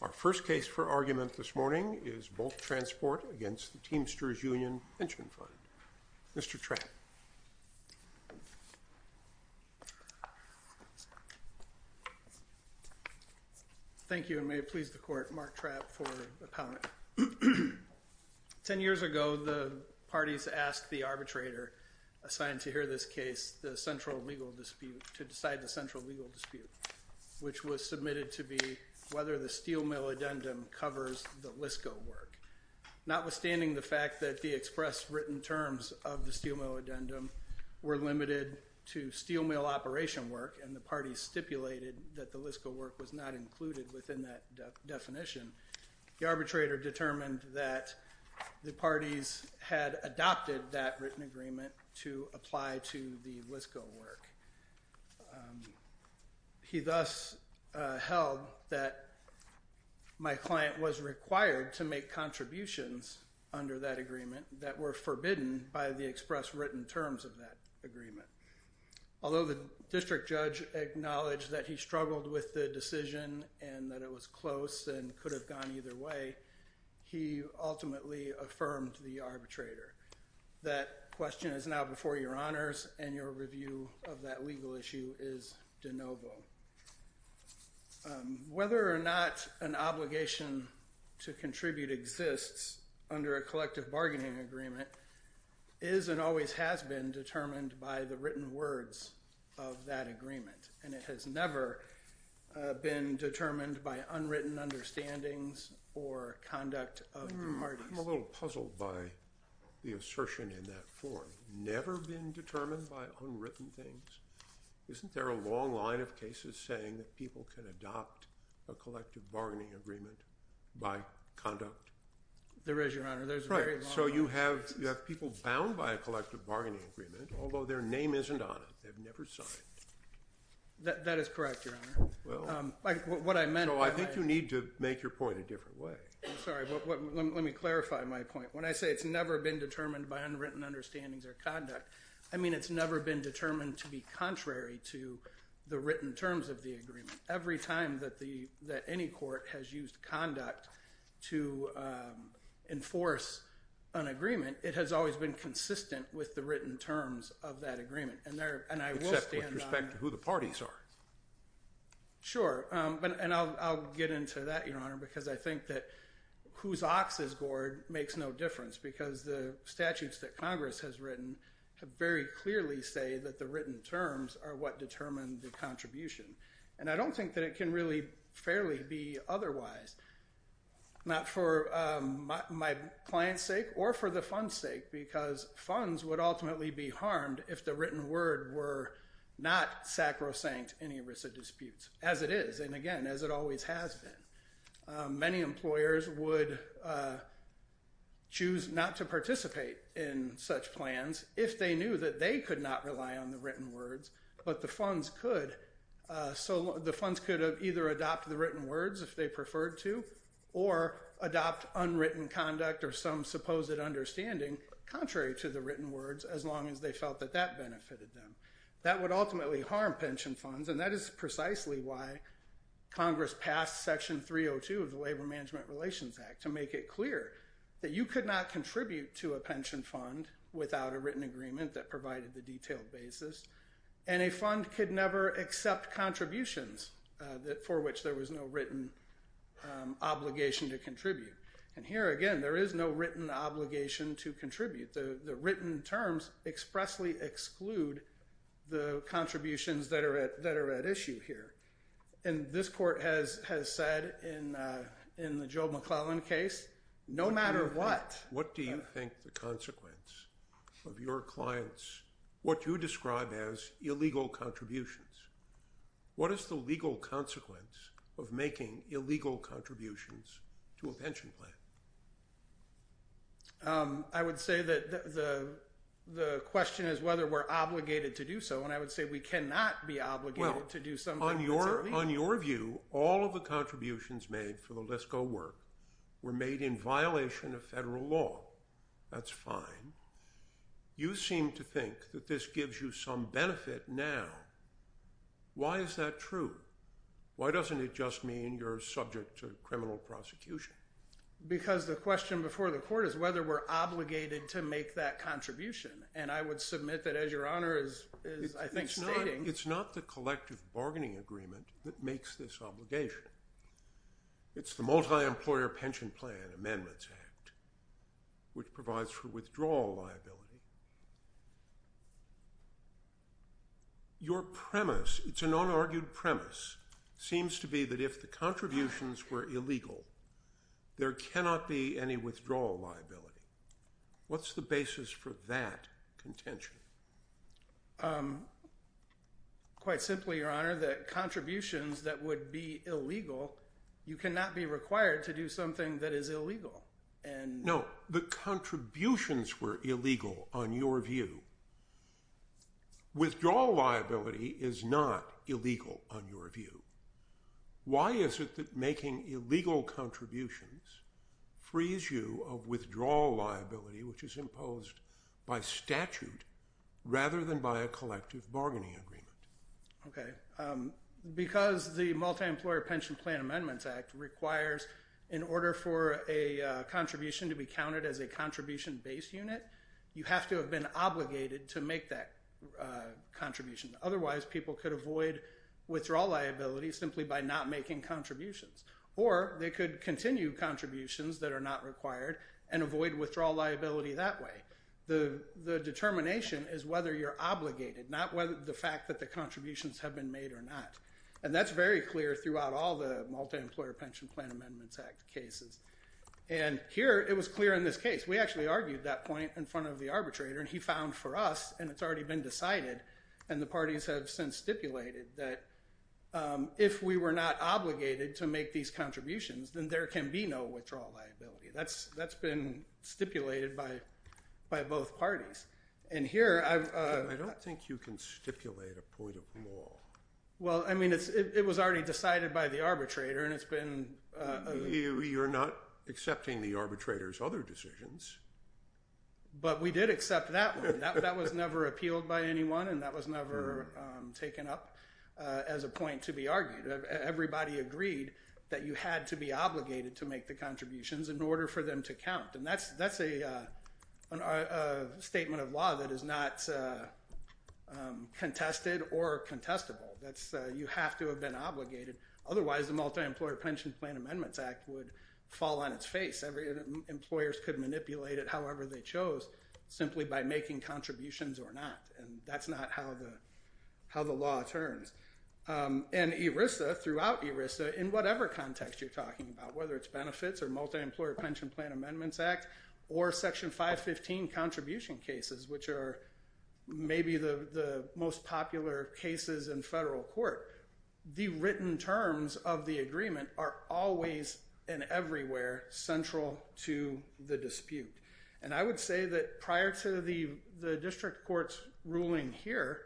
Our first case for argument this morning is Bulk Transport v. Teamsters Union Pension Fund. Mr. Trapp. Thank you, and may it please the Court, Mark Trapp for the comment. Ten years ago, the parties asked the arbitrator assigned to hear this case, the central legal dispute, to decide the central legal dispute, which was submitted to be whether the steel mill addendum covers the LISCO work. Notwithstanding the fact that the express written terms of the steel mill addendum were limited to steel mill operation work, and the parties stipulated that the LISCO work was not included within that definition, the arbitrator determined that the parties had adopted that written agreement to apply to the LISCO work. He thus held that my client was required to make contributions under that agreement that were forbidden by the express written terms of that agreement. Although the district judge acknowledged that he struggled with the decision and that it was close and could have gone either way, he ultimately affirmed the arbitrator. That question is now before your honors, and your review of that legal issue is de novo. Whether or not an obligation to contribute exists under a collective bargaining agreement is and always has been determined by the written words of that agreement, and it has never been determined by unwritten understandings or conduct of the parties. I'm a little puzzled by the assertion in that form. Never been determined by unwritten things? Isn't there a long line of cases saying that people can adopt a collective bargaining agreement by conduct? There is, your honor. There's a very long line. Right. So you have people bound by a collective bargaining agreement, although their name isn't on it. They've never signed. That is correct, your honor. Well. What I meant by that is. So I think you need to make your point a different way. I'm sorry. Let me clarify my point. When I say it's never been determined by unwritten understandings or conduct, I mean it's never been determined to be contrary to the written terms of the agreement. Every time that any court has used conduct to enforce an agreement, it has always been consistent with the written terms of that agreement, and I will stand on that. Except with respect to who the parties are. Sure. And I'll get into that, your honor, because I think that whose ox is gored makes no difference, because the statutes that Congress has written very clearly say that the written terms are what determine the contribution. And I don't think that it can really fairly be otherwise. Not for my client's sake or for the fund's sake, because funds would ultimately be harmed if the written word were not sacrosanct in ERISA disputes, as it is. And, again, as it always has been. Many employers would choose not to participate in such plans if they knew that they could not rely on the written words, but the funds could. So the funds could either adopt the written words if they preferred to, or adopt unwritten conduct or some supposed understanding contrary to the written words, as long as they felt that that benefited them. That would ultimately harm pension funds, and that is precisely why Congress passed Section 302 of the Labor Management Relations Act, to make it clear that you could not contribute to a pension fund without a written agreement that provided the detailed basis, and a fund could never accept contributions for which there was no written obligation to contribute. And here, again, there is no written obligation to contribute. The written terms expressly exclude the contributions that are at issue here. And this Court has said in the Joe McClellan case, no matter what. What do you think the consequence of your clients, what you describe as illegal contributions, what is the legal consequence of making illegal contributions to a pension plan? I would say that the question is whether we're obligated to do so, and I would say we cannot be obligated to do something that's illegal. On your view, all of the contributions made for the LISCO work were made in violation of federal law. That's fine. You seem to think that this gives you some benefit now. Why is that true? Why doesn't it just mean you're subject to criminal prosecution? Because the question before the Court is whether we're obligated to make that contribution, and I would submit that, as Your Honor is, I think, stating— It's not the collective bargaining agreement that makes this obligation. It's the Multi-Employer Pension Plan Amendments Act, which provides for withdrawal liability. Your premise, it's an unargued premise, seems to be that if the contributions were illegal, there cannot be any withdrawal liability. What's the basis for that contention? Quite simply, Your Honor, the contributions that would be illegal, you cannot be required to do something that is illegal. No, the contributions were illegal on your view. Withdrawal liability is not illegal on your view. Why is it that making illegal contributions frees you of withdrawal liability, which is imposed by statute rather than by a collective bargaining agreement? Because the Multi-Employer Pension Plan Amendments Act requires, in order for a contribution to be counted as a contribution-based unit, you have to have been obligated to make that contribution. Otherwise, people could avoid withdrawal liability simply by not making contributions. Or they could continue contributions that are not required and avoid withdrawal liability that way. The determination is whether you're obligated, not whether the fact that the contributions have been made or not. And that's very clear throughout all the Multi-Employer Pension Plan Amendments Act cases. And here, it was clear in this case. We actually argued that point in front of the arbitrator. And he found for us, and it's already been decided, and the parties have since stipulated that if we were not obligated to make these contributions, then there can be no withdrawal liability. That's been stipulated by both parties. And here, I've— I don't think you can stipulate a point of law. Well, I mean, it was already decided by the arbitrator, and it's been— You're not accepting the arbitrator's other decisions. But we did accept that one. That was never appealed by anyone, and that was never taken up as a point to be argued. Everybody agreed that you had to be obligated to make the contributions in order for them to count. And that's a statement of law that is not contested or contestable. You have to have been obligated. Otherwise, the Multi-Employer Pension Plan Amendments Act would fall on its face. Employers could manipulate it however they chose simply by making contributions or not. And that's not how the law turns. And ERISA, throughout ERISA, in whatever context you're talking about, whether it's benefits or Multi-Employer Pension Plan Amendments Act or Section 515 contribution cases, which are maybe the most popular cases in federal court, the written terms of the agreement are always and everywhere central to the dispute. And I would say that prior to the district court's ruling here,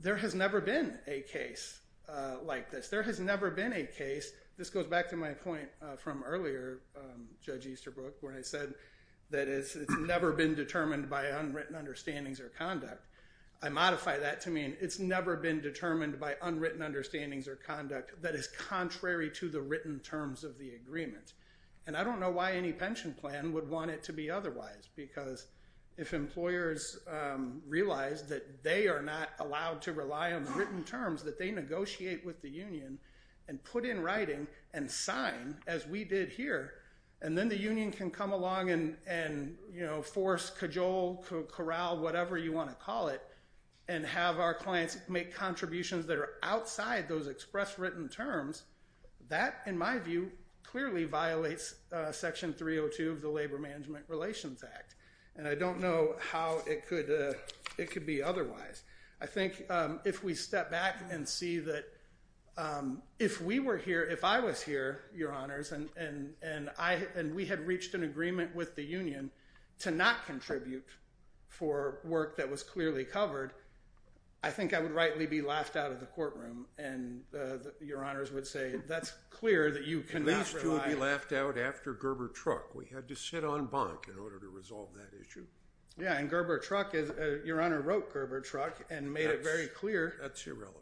there has never been a case like this. There has never been a case—this goes back to my point from earlier, Judge Easterbrook, when I said that it's never been determined by unwritten understandings or conduct. I modify that to mean it's never been determined by unwritten understandings or conduct that is contrary to the written terms of the agreement. And I don't know why any pension plan would want it to be otherwise, because if employers realize that they are not allowed to rely on the written terms, that they negotiate with the union and put in writing and sign, as we did here, and then the union can come along and force, cajole, corral, whatever you want to call it, and have our clients make contributions that are outside those express written terms, that, in my view, clearly violates Section 302 of the Labor Management Relations Act. And I don't know how it could be otherwise. I think if we step back and see that if we were here, if I was here, Your Honors, and we had reached an agreement with the union to not contribute for work that was clearly covered, I think I would rightly be laughed out of the courtroom. And Your Honors would say, that's clear that you cannot rely. And these two would be laughed out after Gerber Truck. We had to sit on bunk in order to resolve that issue. Yeah, and Gerber Truck is—Your Honor wrote Gerber Truck and made it very clear. That's irrelevant.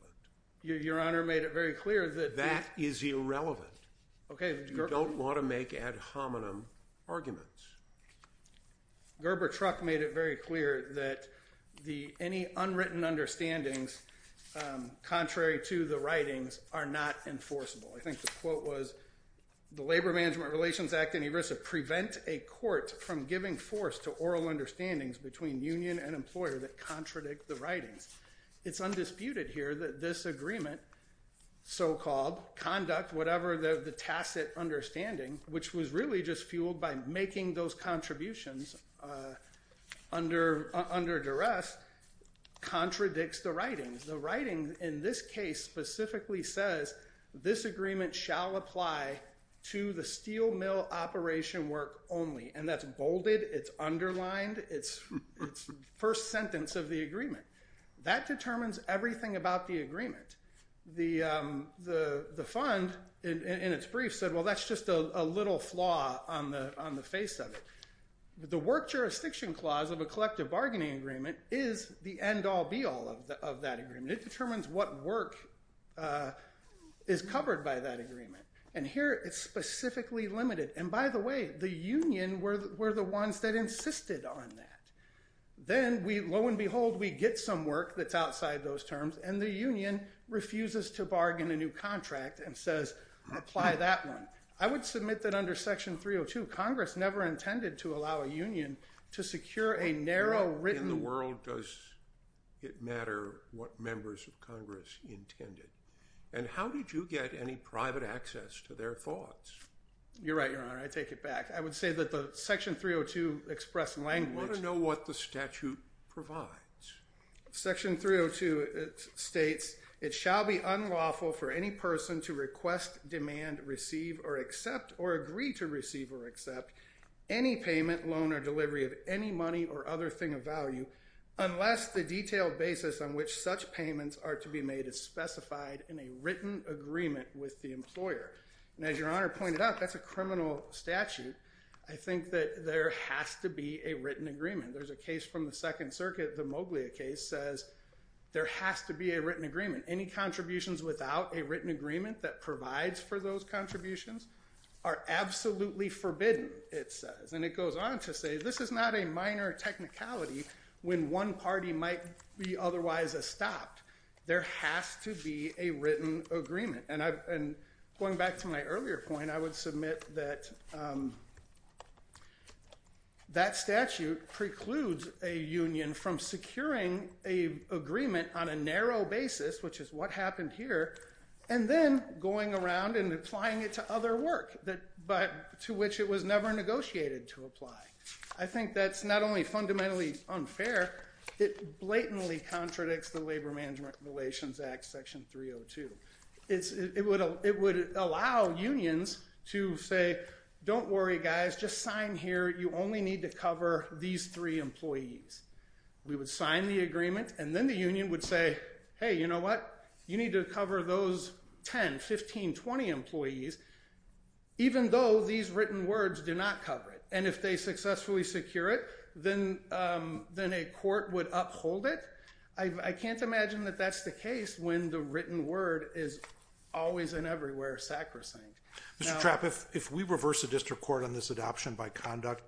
Your Honor made it very clear that— That is irrelevant. Okay. You don't want to make ad hominem arguments. Gerber Truck made it very clear that any unwritten understandings contrary to the writings are not enforceable. I think the quote was, The Labor Management Relations Act and ERISA prevent a court from giving force to oral understandings between union and employer that contradict the writings. It's undisputed here that this agreement, so-called conduct, whatever the tacit understanding, which was really just fueled by making those contributions under duress, contradicts the writings. The writing in this case specifically says, This agreement shall apply to the steel mill operation work only. And that's bolded. It's underlined. It's the first sentence of the agreement. That determines everything about the agreement. The fund, in its brief, said, well, that's just a little flaw on the face of it. The work jurisdiction clause of a collective bargaining agreement is the end-all, be-all of that agreement. It determines what work is covered by that agreement. And here, it's specifically limited. And by the way, the union were the ones that insisted on that. Then, lo and behold, we get some work that's outside those terms, and the union refuses to bargain a new contract and says, apply that one. I would submit that under Section 302, Congress never intended to allow a union to secure a narrow written- In the world, does it matter what members of Congress intended? And how did you get any private access to their thoughts? You're right, Your Honor. I take it back. I would say that the Section 302 expressed language- We want to know what the statute provides. Section 302 states, it shall be unlawful for any person to request, demand, receive, or accept, or agree to receive or accept, any payment, loan, or delivery of any money or other thing of value, unless the detailed basis on which such payments are to be made is specified in a written agreement with the employer. And as Your Honor pointed out, that's a criminal statute. I think that there has to be a written agreement. There's a case from the Second Circuit, the Moglia case, says there has to be a written agreement. Any contributions without a written agreement that provides for those contributions are absolutely forbidden, it says. And it goes on to say, this is not a minor technicality when one party might be otherwise estopped. There has to be a written agreement. And going back to my earlier point, I would submit that that statute precludes a union from securing an agreement on a narrow basis, which is what happened here, and then going around and applying it to other work to which it was never negotiated to apply. I think that's not only fundamentally unfair, it blatantly contradicts the Labor Management Relations Act, Section 302. It would allow unions to say, don't worry, guys, just sign here. You only need to cover these three employees. We would sign the agreement, and then the union would say, hey, you know what? You need to cover those 10, 15, 20 employees, even though these written words do not cover it. And if they successfully secure it, then a court would uphold it. I can't imagine that that's the case when the written word is always and everywhere sacrosanct. Mr. Trapp, if we reverse the district court on this adoption by conduct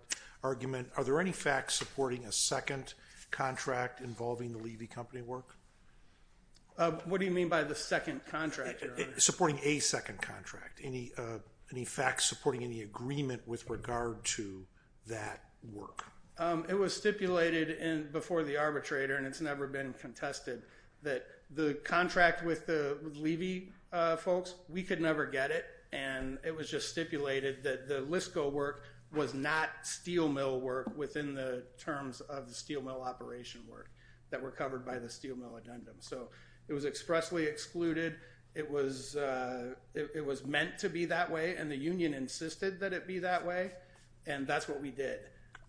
argument, are there any facts supporting a second contract involving the Levy Company work? What do you mean by the second contract? Supporting a second contract. Any facts supporting any agreement with regard to that work? It was stipulated before the arbitrator, and it's never been contested, that the contract with the levy folks, we could never get it, and it was just stipulated that the LISCO work was not steel mill work within the terms of the steel mill operation work that were covered by the steel mill addendum. So it was expressly excluded. It was meant to be that way, and the union insisted that it be that way, and that's what we did.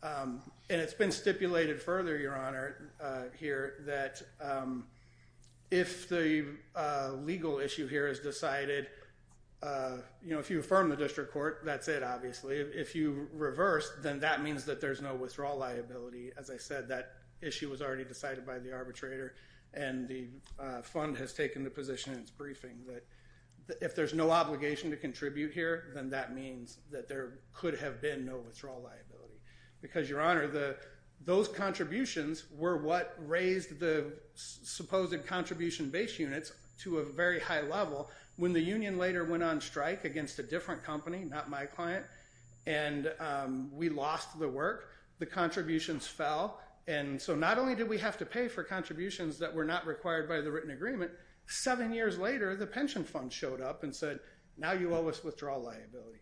And it's been stipulated further, Your Honor, here, that if the legal issue here is decided, you know, if you affirm the district court, that's it, obviously. If you reverse, then that means that there's no withdrawal liability. As I said, that issue was already decided by the arbitrator, and the fund has taken the position in its briefing that if there's no obligation to contribute here, then that means that there could have been no withdrawal liability. Because, Your Honor, those contributions were what raised the supposed contribution-based units to a very high level. When the union later went on strike against a different company, not my client, and we lost the work, the contributions fell. And so not only did we have to pay for contributions that were not required by the written agreement, seven years later, the pension fund showed up and said, now you owe us withdrawal liability.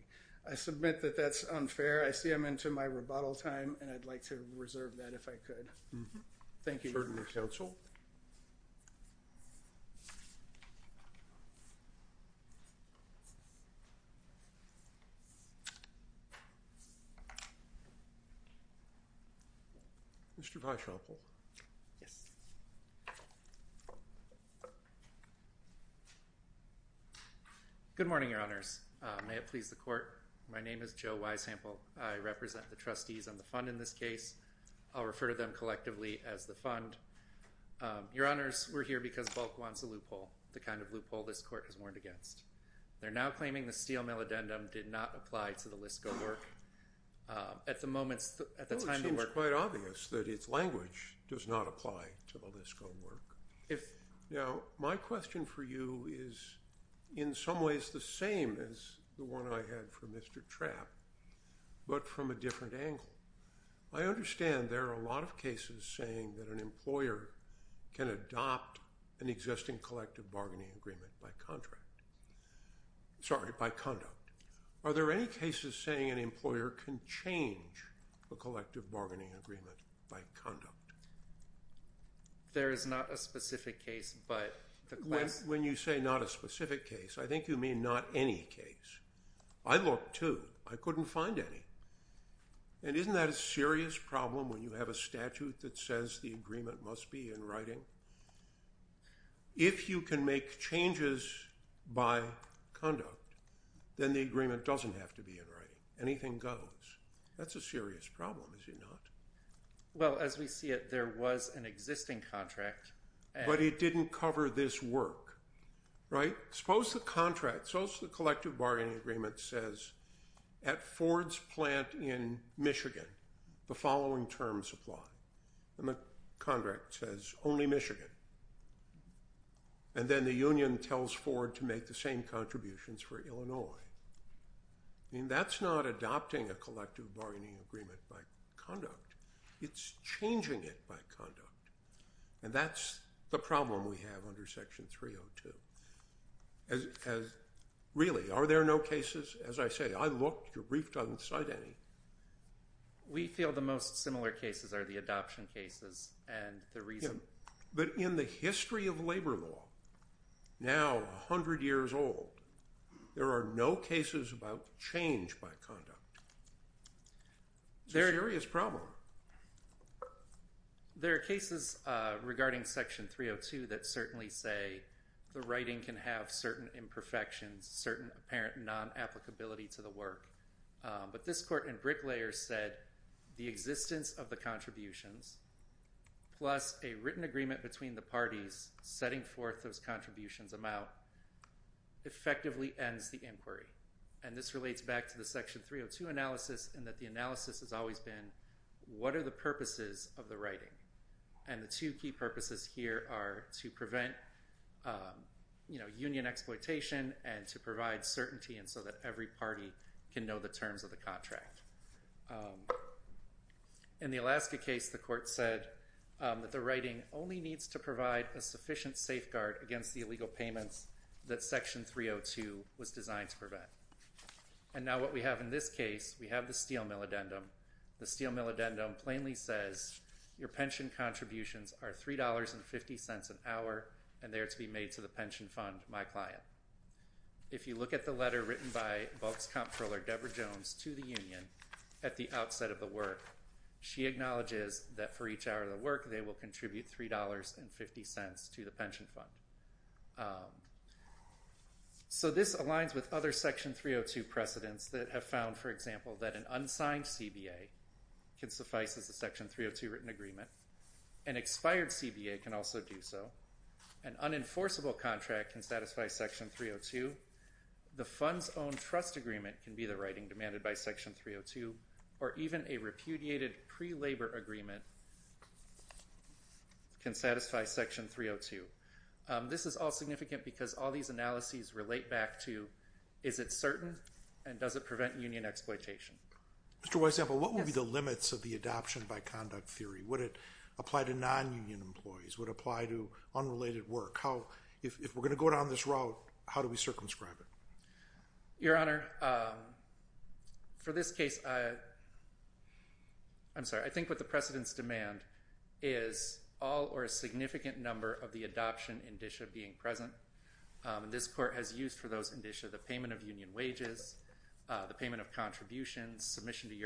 I submit that that's unfair. I see I'm into my rebuttal time, and I'd like to reserve that, if I could. Thank you, Your Honor. Thank you, counsel. Mr. Weishample. Yes. Good morning, Your Honors. May it please the court, my name is Joe Weishample. I represent the trustees on the fund in this case. I'll refer to them collectively as the fund. Your Honors, we're here because Bulk wants a loophole, the kind of loophole this court has warned against. They're now claiming the steel mill addendum did not apply to the LISCO work. At the moment, at the time of the work… Well, it seems quite obvious that its language does not apply to the LISCO work. Now, my question for you is in some ways the same as the one I had for Mr. Trapp, but from a different angle. I understand there are a lot of cases saying that an employer can adopt an existing collective bargaining agreement by contract. Sorry, by conduct. Are there any cases saying an employer can change a collective bargaining agreement by conduct? There is not a specific case, but the… When you say not a specific case, I think you mean not any case. I looked, too. I couldn't find any. And isn't that a serious problem when you have a statute that says the agreement must be in writing? If you can make changes by conduct, then the agreement doesn't have to be in writing. Anything goes. That's a serious problem, is it not? Well, as we see it, there was an existing contract. But it didn't cover this work, right? Suppose the collective bargaining agreement says at Ford's plant in Michigan the following terms apply. And the contract says only Michigan. And then the union tells Ford to make the same contributions for Illinois. I mean, that's not adopting a collective bargaining agreement by conduct. It's changing it by conduct. And that's the problem we have under Section 302. Really, are there no cases? As I say, I looked. Your brief doesn't cite any. We feel the most similar cases are the adoption cases and the reason. But in the history of labor law, now 100 years old, there are no cases about change by conduct. It's a serious problem. There are cases regarding Section 302 that certainly say the writing can have certain imperfections, certain apparent non-applicability to the work. But this court in Bricklayer said the existence of the contributions plus a written agreement between the parties setting forth those contributions amount effectively ends the inquiry. And this relates back to the Section 302 analysis in that the analysis has always been, what are the purposes of the writing? And the two key purposes here are to prevent union exploitation and to provide certainty so that every party can know the terms of the contract. In the Alaska case, the court said that the writing only needs to provide a sufficient safeguard against the illegal payments that Section 302 was designed to prevent. And now what we have in this case, we have the steel mill addendum. The steel mill addendum plainly says your pension contributions are $3.50 an hour and they are to be made to the pension fund, my client. If you look at the letter written by Volk's comptroller, Deborah Jones, to the union at the outset of the work, she acknowledges that for each hour of the work they will contribute $3.50 to the pension fund. So this aligns with other Section 302 precedents that have found, for example, that an unsigned CBA can suffice as a Section 302 written agreement. An expired CBA can also do so. An unenforceable contract can satisfy Section 302. The fund's own trust agreement can be the writing demanded by Section 302, or even a repudiated pre-labor agreement can satisfy Section 302. This is all significant because all these analyses relate back to, is it certain and does it prevent union exploitation? Mr. Weisampel, what would be the limits of the adoption by conduct theory? Would it apply to non-union employees? Would it apply to unrelated work? If we're going to go down this road, how do we circumscribe it? Your Honor, for this case, I'm sorry, I think what the precedents demand is all or a significant number of the adoption indicia being present. This Court has used for those indicia the payment of union wages, the payment of contributions, submission to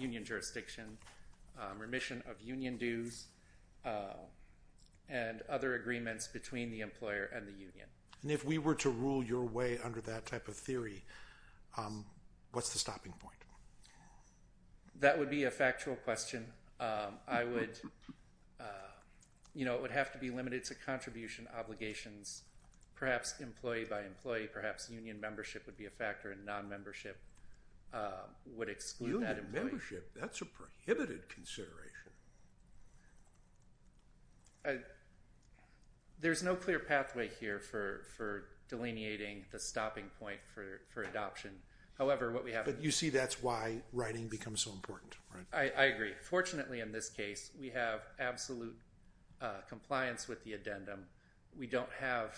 union jurisdiction, remission of union dues, and other agreements between the employer and the union. And if we were to rule your way under that type of theory, what's the stopping point? That would be a factual question. I would, you know, it would have to be limited to contribution obligations, perhaps employee by employee, perhaps union membership would be a factor and non-membership would exclude that employee. Union membership, that's a prohibited consideration. There's no clear pathway here for delineating the stopping point for adoption. However, what we have... But you see that's why writing becomes so important, right? I agree. Fortunately, in this case, we have absolute compliance with the addendum. We don't have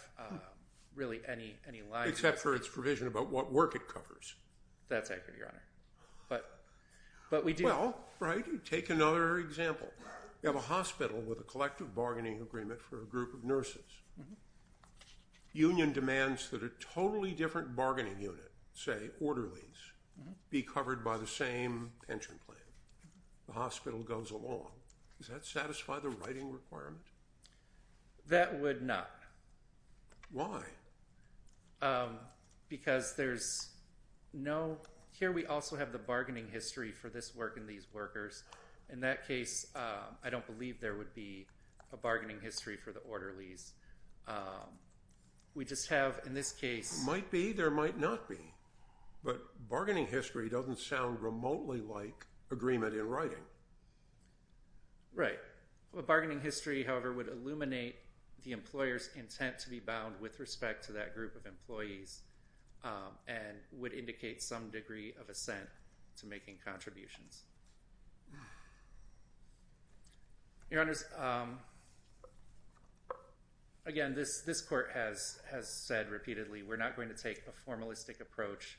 really any line... Except for its provision about what work it covers. That's accurate, Your Honor. But we do. Well, right, you take another example. You have a hospital with a collective bargaining agreement for a group of nurses. Union demands that a totally different bargaining unit, say orderlies, be covered by the same pension plan. The hospital goes along. Does that satisfy the writing requirement? That would not. Why? Because there's no... Here we also have the bargaining history for this work and these workers. In that case, I don't believe there would be a bargaining history for the orderlies. We just have, in this case... Might be, there might not be. But bargaining history doesn't sound remotely like agreement in writing. Right. Bargaining history, however, would illuminate the employer's intent to be bound with respect to that group of employees and would indicate some degree of assent to making contributions. Your Honors, again, this Court has said repeatedly, we're not going to take a formalistic approach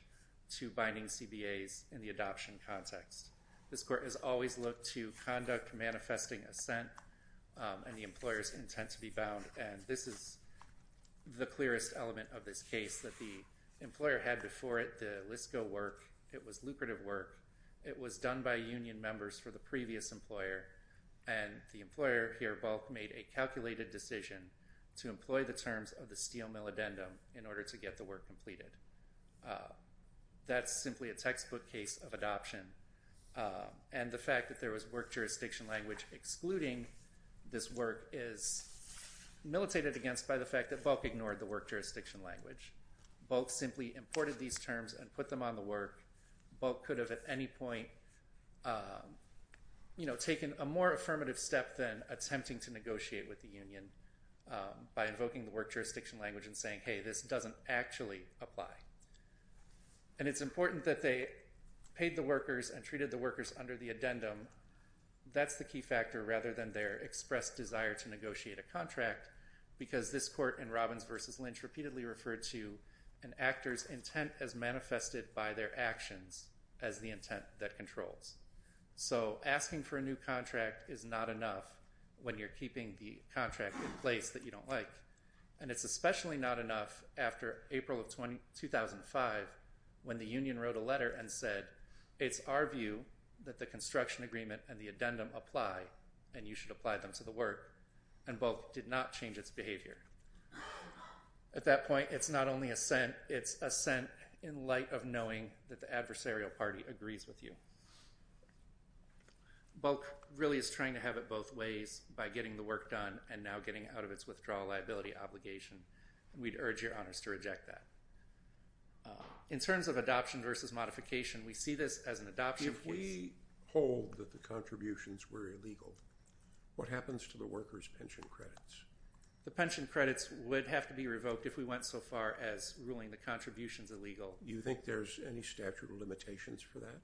to binding CBAs in the adoption context. This Court has always looked to conduct manifesting assent and the employer's intent to be bound, and this is the clearest element of this case, that the employer had before it the LISCO work. It was lucrative work. It was done by union members for the previous employer, and the employer here both made a calculated decision to employ the terms of the steel mill addendum in order to get the work completed. That's simply a textbook case of adoption, and the fact that there was work jurisdiction language excluding this work is militated against by the fact that Bulk ignored the work jurisdiction language. Bulk simply imported these terms and put them on the work. Bulk could have at any point, you know, taken a more affirmative step than attempting to negotiate with the union by invoking the work jurisdiction language and saying, hey, this doesn't actually apply. And it's important that they paid the workers and treated the workers under the addendum. That's the key factor rather than their expressed desire to negotiate a contract because this Court in Robbins v. Lynch repeatedly referred to an actor's intent as manifested by their actions as the intent that controls. So asking for a new contract is not enough when you're keeping the contract in place that you don't like, and it's especially not enough after April of 2005 when the union wrote a letter and said it's our view that the construction agreement and the addendum apply and you should apply them to the work, and Bulk did not change its behavior. At that point, it's not only assent, it's assent in light of knowing that the adversarial party agrees with you. Bulk really is trying to have it both ways by getting the work done and now getting out of its withdrawal liability obligation, and we'd urge your Honors to reject that. In terms of adoption versus modification, we see this as an adoption case. If we hold that the contributions were illegal, what happens to the workers' pension credits? The pension credits would have to be revoked if we went so far as ruling the contributions illegal. Do you think there's any statute of limitations for that?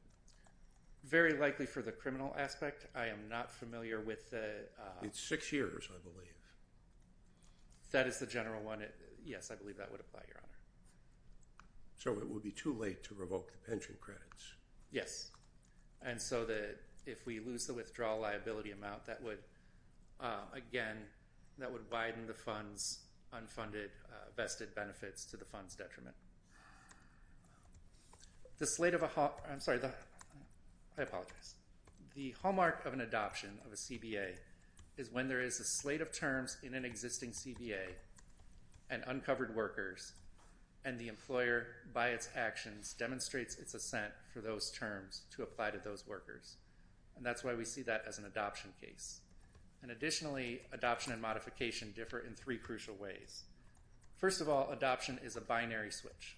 Very likely for the criminal aspect. I am not familiar with the— It's six years, I believe. If that is the general one, yes, I believe that would apply, Your Honor. So it would be too late to revoke the pension credits? Yes, and so that if we lose the withdrawal liability amount, that would, again, that would widen the fund's unfunded vested benefits to the fund's detriment. The slate of a—I'm sorry, I apologize. The hallmark of an adoption of a CBA is when there is a slate of terms in an existing CBA and uncovered workers and the employer, by its actions, demonstrates its assent for those terms to apply to those workers, and that's why we see that as an adoption case. And additionally, adoption and modification differ in three crucial ways. First of all, adoption is a binary switch.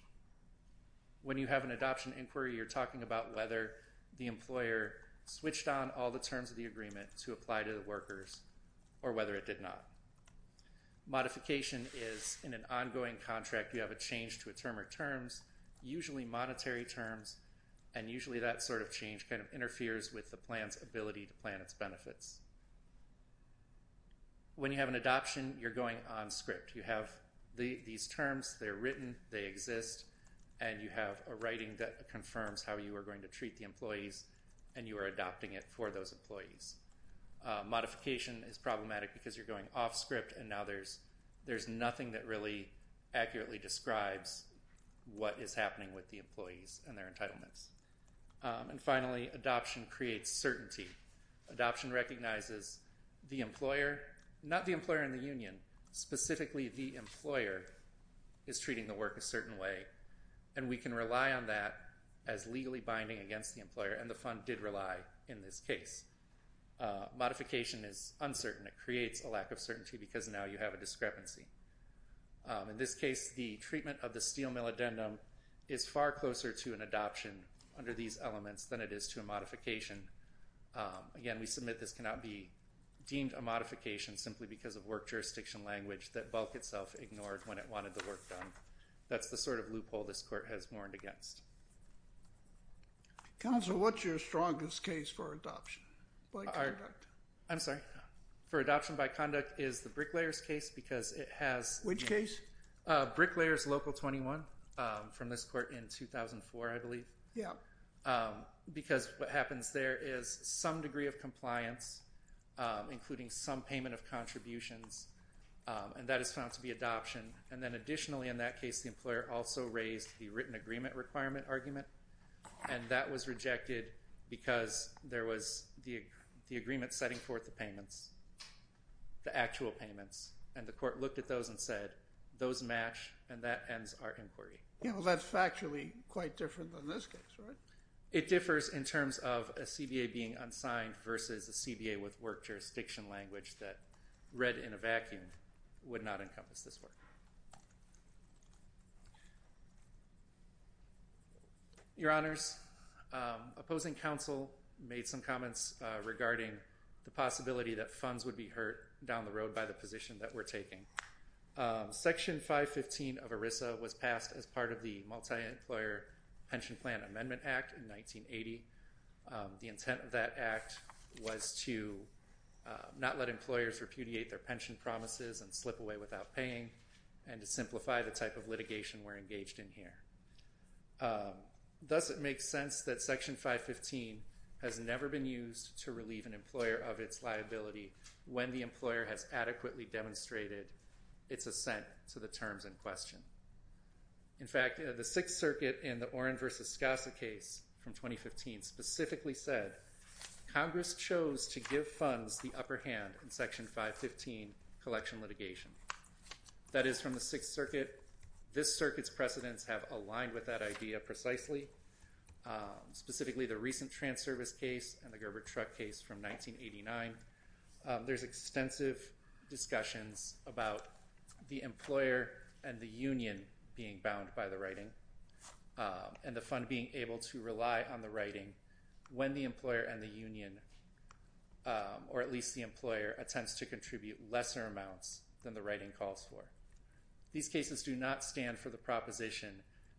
When you have an adoption inquiry, you're talking about whether the employer switched on all the terms of the agreement to apply to the workers or whether it did not. Modification is, in an ongoing contract, you have a change to a term or terms, usually monetary terms, and usually that sort of change kind of interferes with the plan's ability to plan its benefits. When you have an adoption, you're going on script. You have these terms, they're written, they exist, and you have a writing that confirms how you are going to treat the employees and you are adopting it for those employees. Modification is problematic because you're going off script and now there's nothing that really accurately describes what is happening with the employees and their entitlements. And finally, adoption creates certainty. Adoption recognizes the employer, not the employer and the union, specifically the employer is treating the work a certain way and we can rely on that as legally binding against the employer, and the fund did rely in this case. Modification is uncertain. It creates a lack of certainty because now you have a discrepancy. In this case, the treatment of the steel mill addendum is far closer to an adoption under these elements than it is to a modification. Again, we submit this cannot be deemed a modification simply because of work jurisdiction language that Bulk itself ignored when it wanted the work done. That's the sort of loophole this court has mourned against. Counsel, what's your strongest case for adoption by conduct? I'm sorry? For adoption by conduct is the Bricklayer's case because it has... Which case? Bricklayer's Local 21 from this court in 2004, I believe. Yeah. Because what happens there is some degree of compliance, including some payment of contributions, and that is found to be adoption. And then additionally in that case, the employer also raised the written agreement requirement argument, and that was rejected because there was the agreement setting forth the payments, the actual payments, and the court looked at those and said, those match and that ends our inquiry. That's factually quite different than this case, right? It differs in terms of a CBA being unsigned versus a CBA with work jurisdiction language that, read in a vacuum, would not encompass this work. Your Honors, opposing counsel made some comments regarding the possibility that funds would be hurt down the road by the position that we're taking. Section 515 of ERISA was passed as part of the Multi-Employer Pension Plan Amendment Act in 1980. The intent of that act was to not let employers repudiate their pension promises and slip away without paying and to simplify the type of litigation we're engaged in here. Does it make sense that Section 515 has never been used to relieve an employer of its liability when the employer has adequately demonstrated its assent to the terms in question? In fact, the Sixth Circuit in the Oren v. Scassa case from 2015 specifically said Congress chose to give funds the upper hand in Section 515 collection litigation. That is, from the Sixth Circuit, this circuit's precedents have aligned with that idea precisely, specifically the recent Transervice case and the Gerber truck case from 1989. There's extensive discussions about the employer and the union being bound by the writing and the fund being able to rely on the writing when the employer and the union, or at least the employer, attempts to contribute lesser amounts than the writing calls for. These cases do not stand for the proposition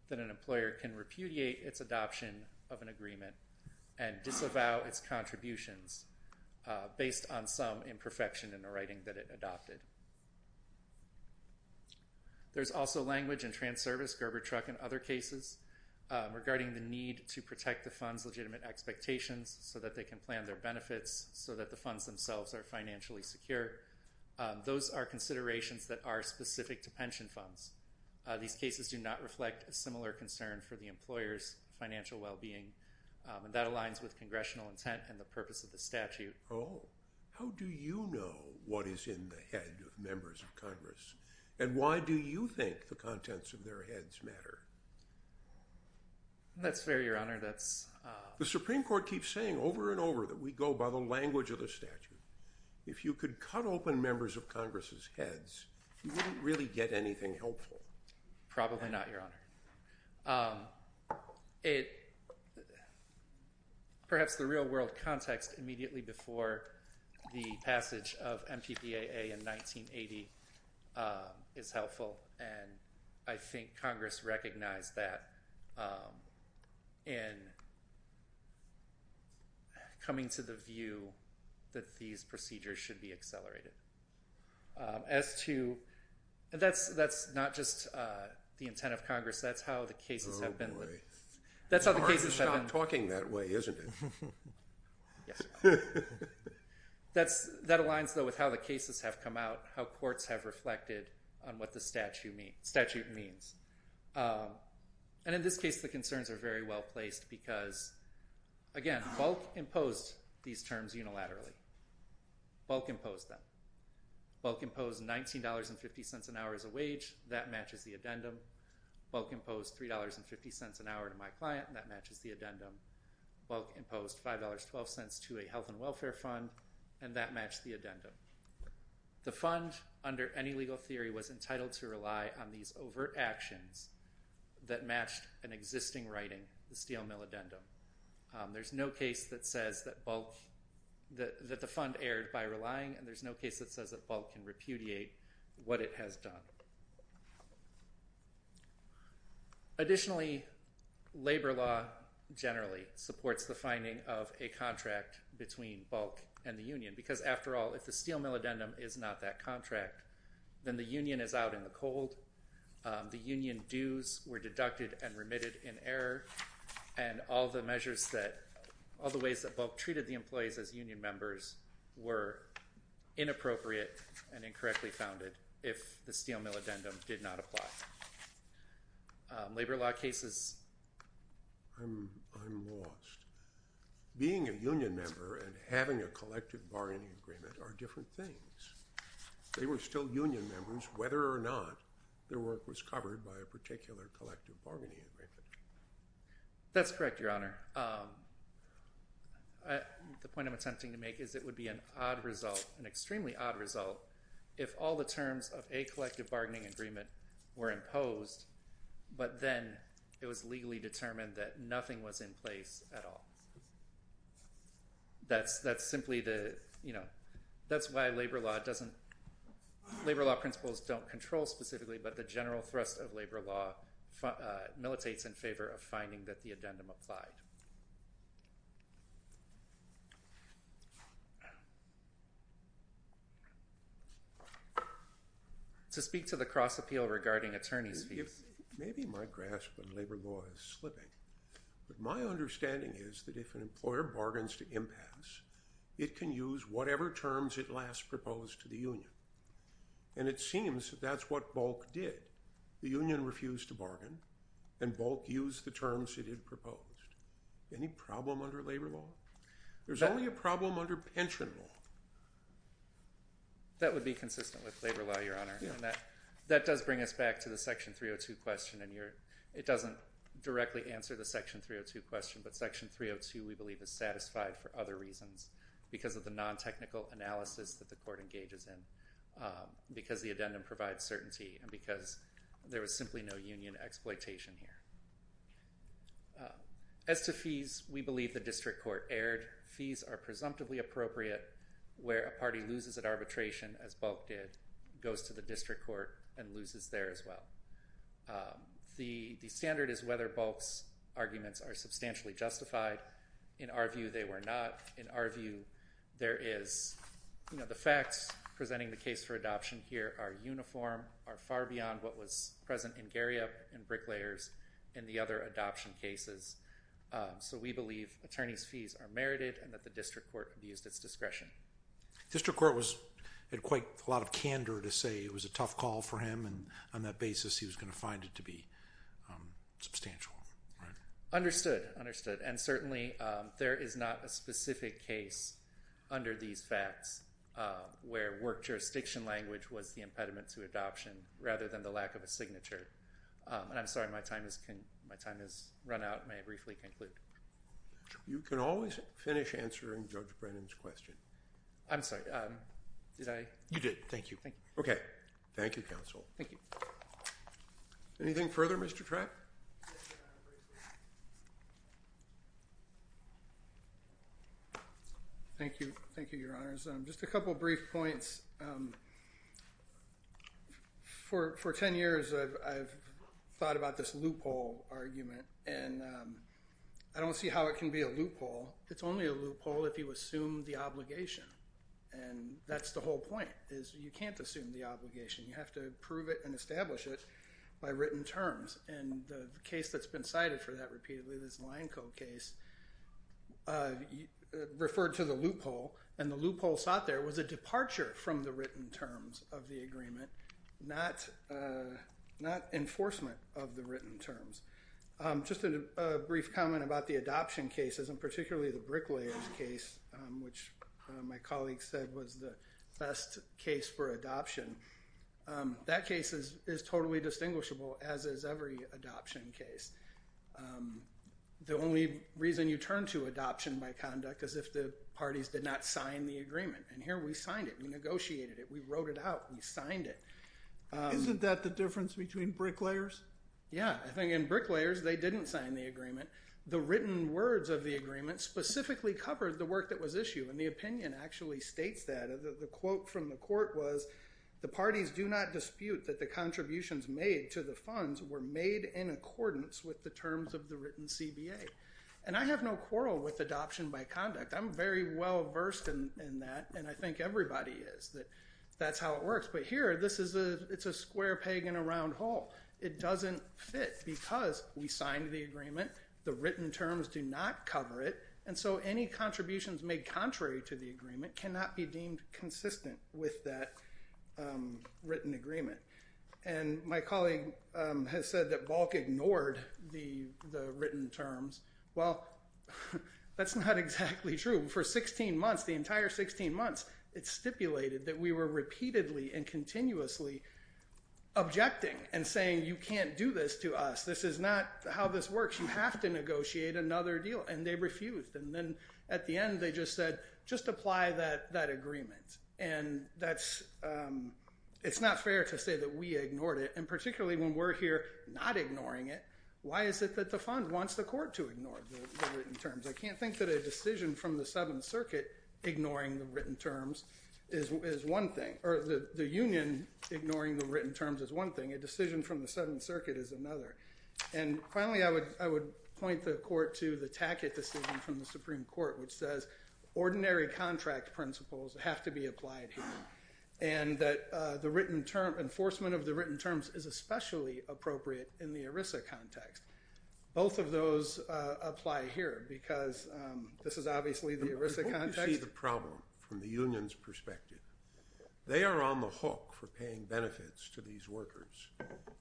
that an employer can repudiate its adoption of an agreement and disavow its contributions based on some imperfection in the writing that it adopted. There's also language in Transervice, Gerber truck, and other cases regarding the need to protect the fund's legitimate expectations so that they can plan their benefits, so that the funds themselves are financially secure. Those are considerations that are specific to pension funds. These cases do not reflect a similar concern for the employer's financial well-being, and that aligns with congressional intent and the purpose of the statute. How do you know what is in the head of members of Congress, and why do you think the contents of their heads matter? That's fair, Your Honor. The Supreme Court keeps saying over and over that we go by the language of the statute. If you could cut open members of Congress's heads, you wouldn't really get anything helpful. Probably not, Your Honor. Perhaps the real-world context immediately before the passage of MPPAA in 1980 is helpful, and I think Congress recognized that in coming to the view that these procedures should be accelerated. That's not just the intent of Congress. That's how the cases have been. Oh, boy. Congress is not talking that way, isn't it? Yes. That aligns, though, with how the cases have come out, how courts have reflected on what the statute means. And in this case, the concerns are very well placed because, again, Bulk imposed these terms unilaterally. Bulk imposed them. Bulk imposed $19.50 an hour as a wage. That matches the addendum. Bulk imposed $3.50 an hour to my client, and that matches the addendum. Bulk imposed $5.12 to a health and welfare fund, and that matched the addendum. The fund, under any legal theory, was entitled to rely on these overt actions that matched an existing writing, the steel mill addendum. There's no case that says that the fund erred by relying, and there's no case that says that Bulk can repudiate what it has done. Additionally, labor law generally supports the finding of a contract between Bulk and the union because, after all, if the steel mill addendum is not that contract, then the union is out in the cold. And all the ways that Bulk treated the employees as union members were inappropriate and incorrectly founded if the steel mill addendum did not apply. Labor law cases? I'm lost. Being a union member and having a collective bargaining agreement are different things. They were still union members whether or not their work was covered by a particular collective bargaining agreement. That's correct, Your Honor. The point I'm attempting to make is it would be an extremely odd result if all the terms of a collective bargaining agreement were imposed, but then it was legally determined that nothing was in place at all. That's why labor law principles don't control specifically, but the general thrust of labor law militates in favor of finding that the addendum applied. To speak to the cross-appeal regarding attorney's fees. Maybe my grasp on labor law is slipping, but my understanding is that if an employer bargains to impasse, it can use whatever terms it last proposed to the union. It seems that's what Bulk did. The union refused to bargain and Bulk used the terms it had proposed. Any problem under labor law? There's only a problem under pension law. That would be consistent with labor law, Your Honor. That does bring us back to the section 302 question. It doesn't directly answer the section 302 question, but section 302 we believe is satisfied for other reasons because of the non-technical analysis that the court engages in, because the addendum provides certainty, and because there was simply no union exploitation here. As to fees, we believe the district court erred. Fees are presumptively appropriate where a party loses at arbitration, as Bulk did, goes to the district court, and loses there as well. The standard is whether Bulk's arguments are substantially justified. In our view, they were not. In our view, the facts presenting the case for adoption here are uniform, are far beyond what was present in Garriott and Bricklayer's and the other adoption cases. So we believe attorneys' fees are merited and that the district court abused its discretion. The district court had quite a lot of candor to say it was a tough call for him, and on that basis he was going to find it to be substantial. Understood, understood. And certainly there is not a specific case under these facts where work jurisdiction language was the impediment to adoption rather than the lack of a signature. And I'm sorry, my time has run out. May I briefly conclude? You can always finish answering Judge Brennan's question. I'm sorry, did I? You did. Thank you. Okay. Thank you, counsel. Thank you. Anything further, Mr. Trapp? Thank you. Thank you, Your Honors. Just a couple of brief points. For 10 years I've thought about this loophole argument, and I don't see how it can be a loophole. It's only a loophole if you assume the obligation, and that's the whole point is you can't assume the obligation. You have to prove it and establish it by written terms, and the case that's been cited for that repeatedly, this Line Co case, referred to the loophole, and the loophole sought there was a departure from the written terms of the agreement, not enforcement of the written terms. Just a brief comment about the adoption cases, and particularly the bricklayer's case, which my colleague said was the best case for adoption. That case is totally distinguishable, as is every adoption case. The only reason you turn to adoption by conduct is if the parties did not sign the agreement, and here we signed it. We negotiated it. We wrote it out. We signed it. Isn't that the difference between bricklayers? Yeah. I think in bricklayers they didn't sign the agreement. The written words of the agreement specifically covered the work that was issued, and the opinion actually states that. The quote from the court was, the parties do not dispute that the contributions made to the funds were made in accordance with the terms of the written CBA, and I have no quarrel with adoption by conduct. I'm very well versed in that, and I think everybody is, that that's how it works, but here it's a square peg in a round hole. It doesn't fit because we signed the agreement. The written terms do not cover it, and so any contributions made contrary to the agreement cannot be deemed consistent with that written agreement, and my colleague has said that Balk ignored the written terms. Well, that's not exactly true. For 16 months, the entire 16 months, it stipulated that we were repeatedly and continuously objecting and saying, you can't do this to us. This is not how this works. You have to negotiate another deal, and they refused, and then at the end they just said, just apply that agreement, and it's not fair to say that we ignored it, and particularly when we're here not ignoring it. Why is it that the fund wants the court to ignore the written terms? I can't think that a decision from the Seventh Circuit ignoring the written terms is one thing, or the union ignoring the written terms is one thing. A decision from the Seventh Circuit is another, and finally I would point the court to the Tackett decision from the Supreme Court, which says ordinary contract principles have to be applied here, and that the enforcement of the written terms is especially appropriate in the ERISA context. Both of those apply here because this is obviously the ERISA context. Before you see the problem from the union's perspective, they are on the hook for paying benefits to these workers.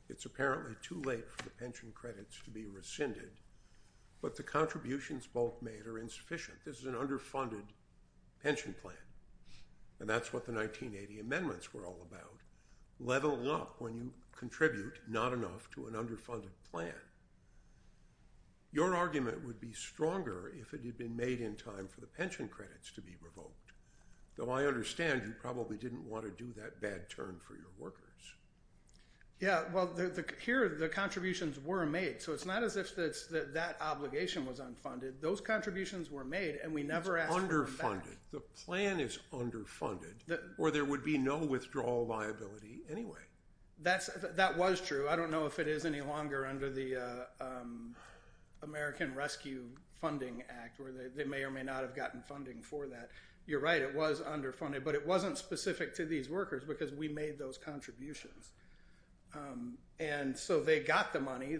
It's apparently too late for the pension credits to be rescinded, but the contributions both made are insufficient. This is an underfunded pension plan, and that's what the 1980 amendments were all about. Level up when you contribute not enough to an underfunded plan. Your argument would be stronger if it had been made in time for the pension credits to be revoked, though I understand you probably didn't want to do that bad turn for your workers. Yeah, well, here the contributions were made, so it's not as if that obligation was unfunded. Those contributions were made, and we never asked for them back. It's underfunded. The plan is underfunded, or there would be no withdrawal liability anyway. That was true. I don't know if it is any longer under the American Rescue Funding Act, where they may or may not have gotten funding for that. You're right, it was underfunded, but it wasn't specific to these workers because we made those contributions. And so they got the money.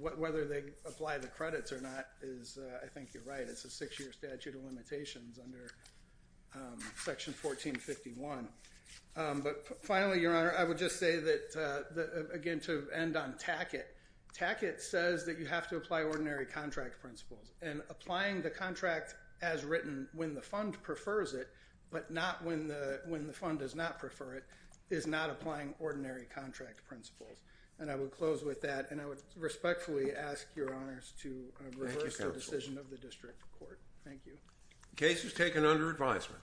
Whether they apply the credits or not is, I think you're right, it's a six-year statute of limitations under Section 1451. But finally, Your Honor, I would just say that, again, to end on Tackett, Tackett says that you have to apply ordinary contract principles, and applying the contract as written when the fund prefers it, but not when the fund does not prefer it, is not applying ordinary contract principles. And I would close with that, and I would respectfully ask Your Honors to reverse the decision of the district court. Thank you. The case is taken under advisement.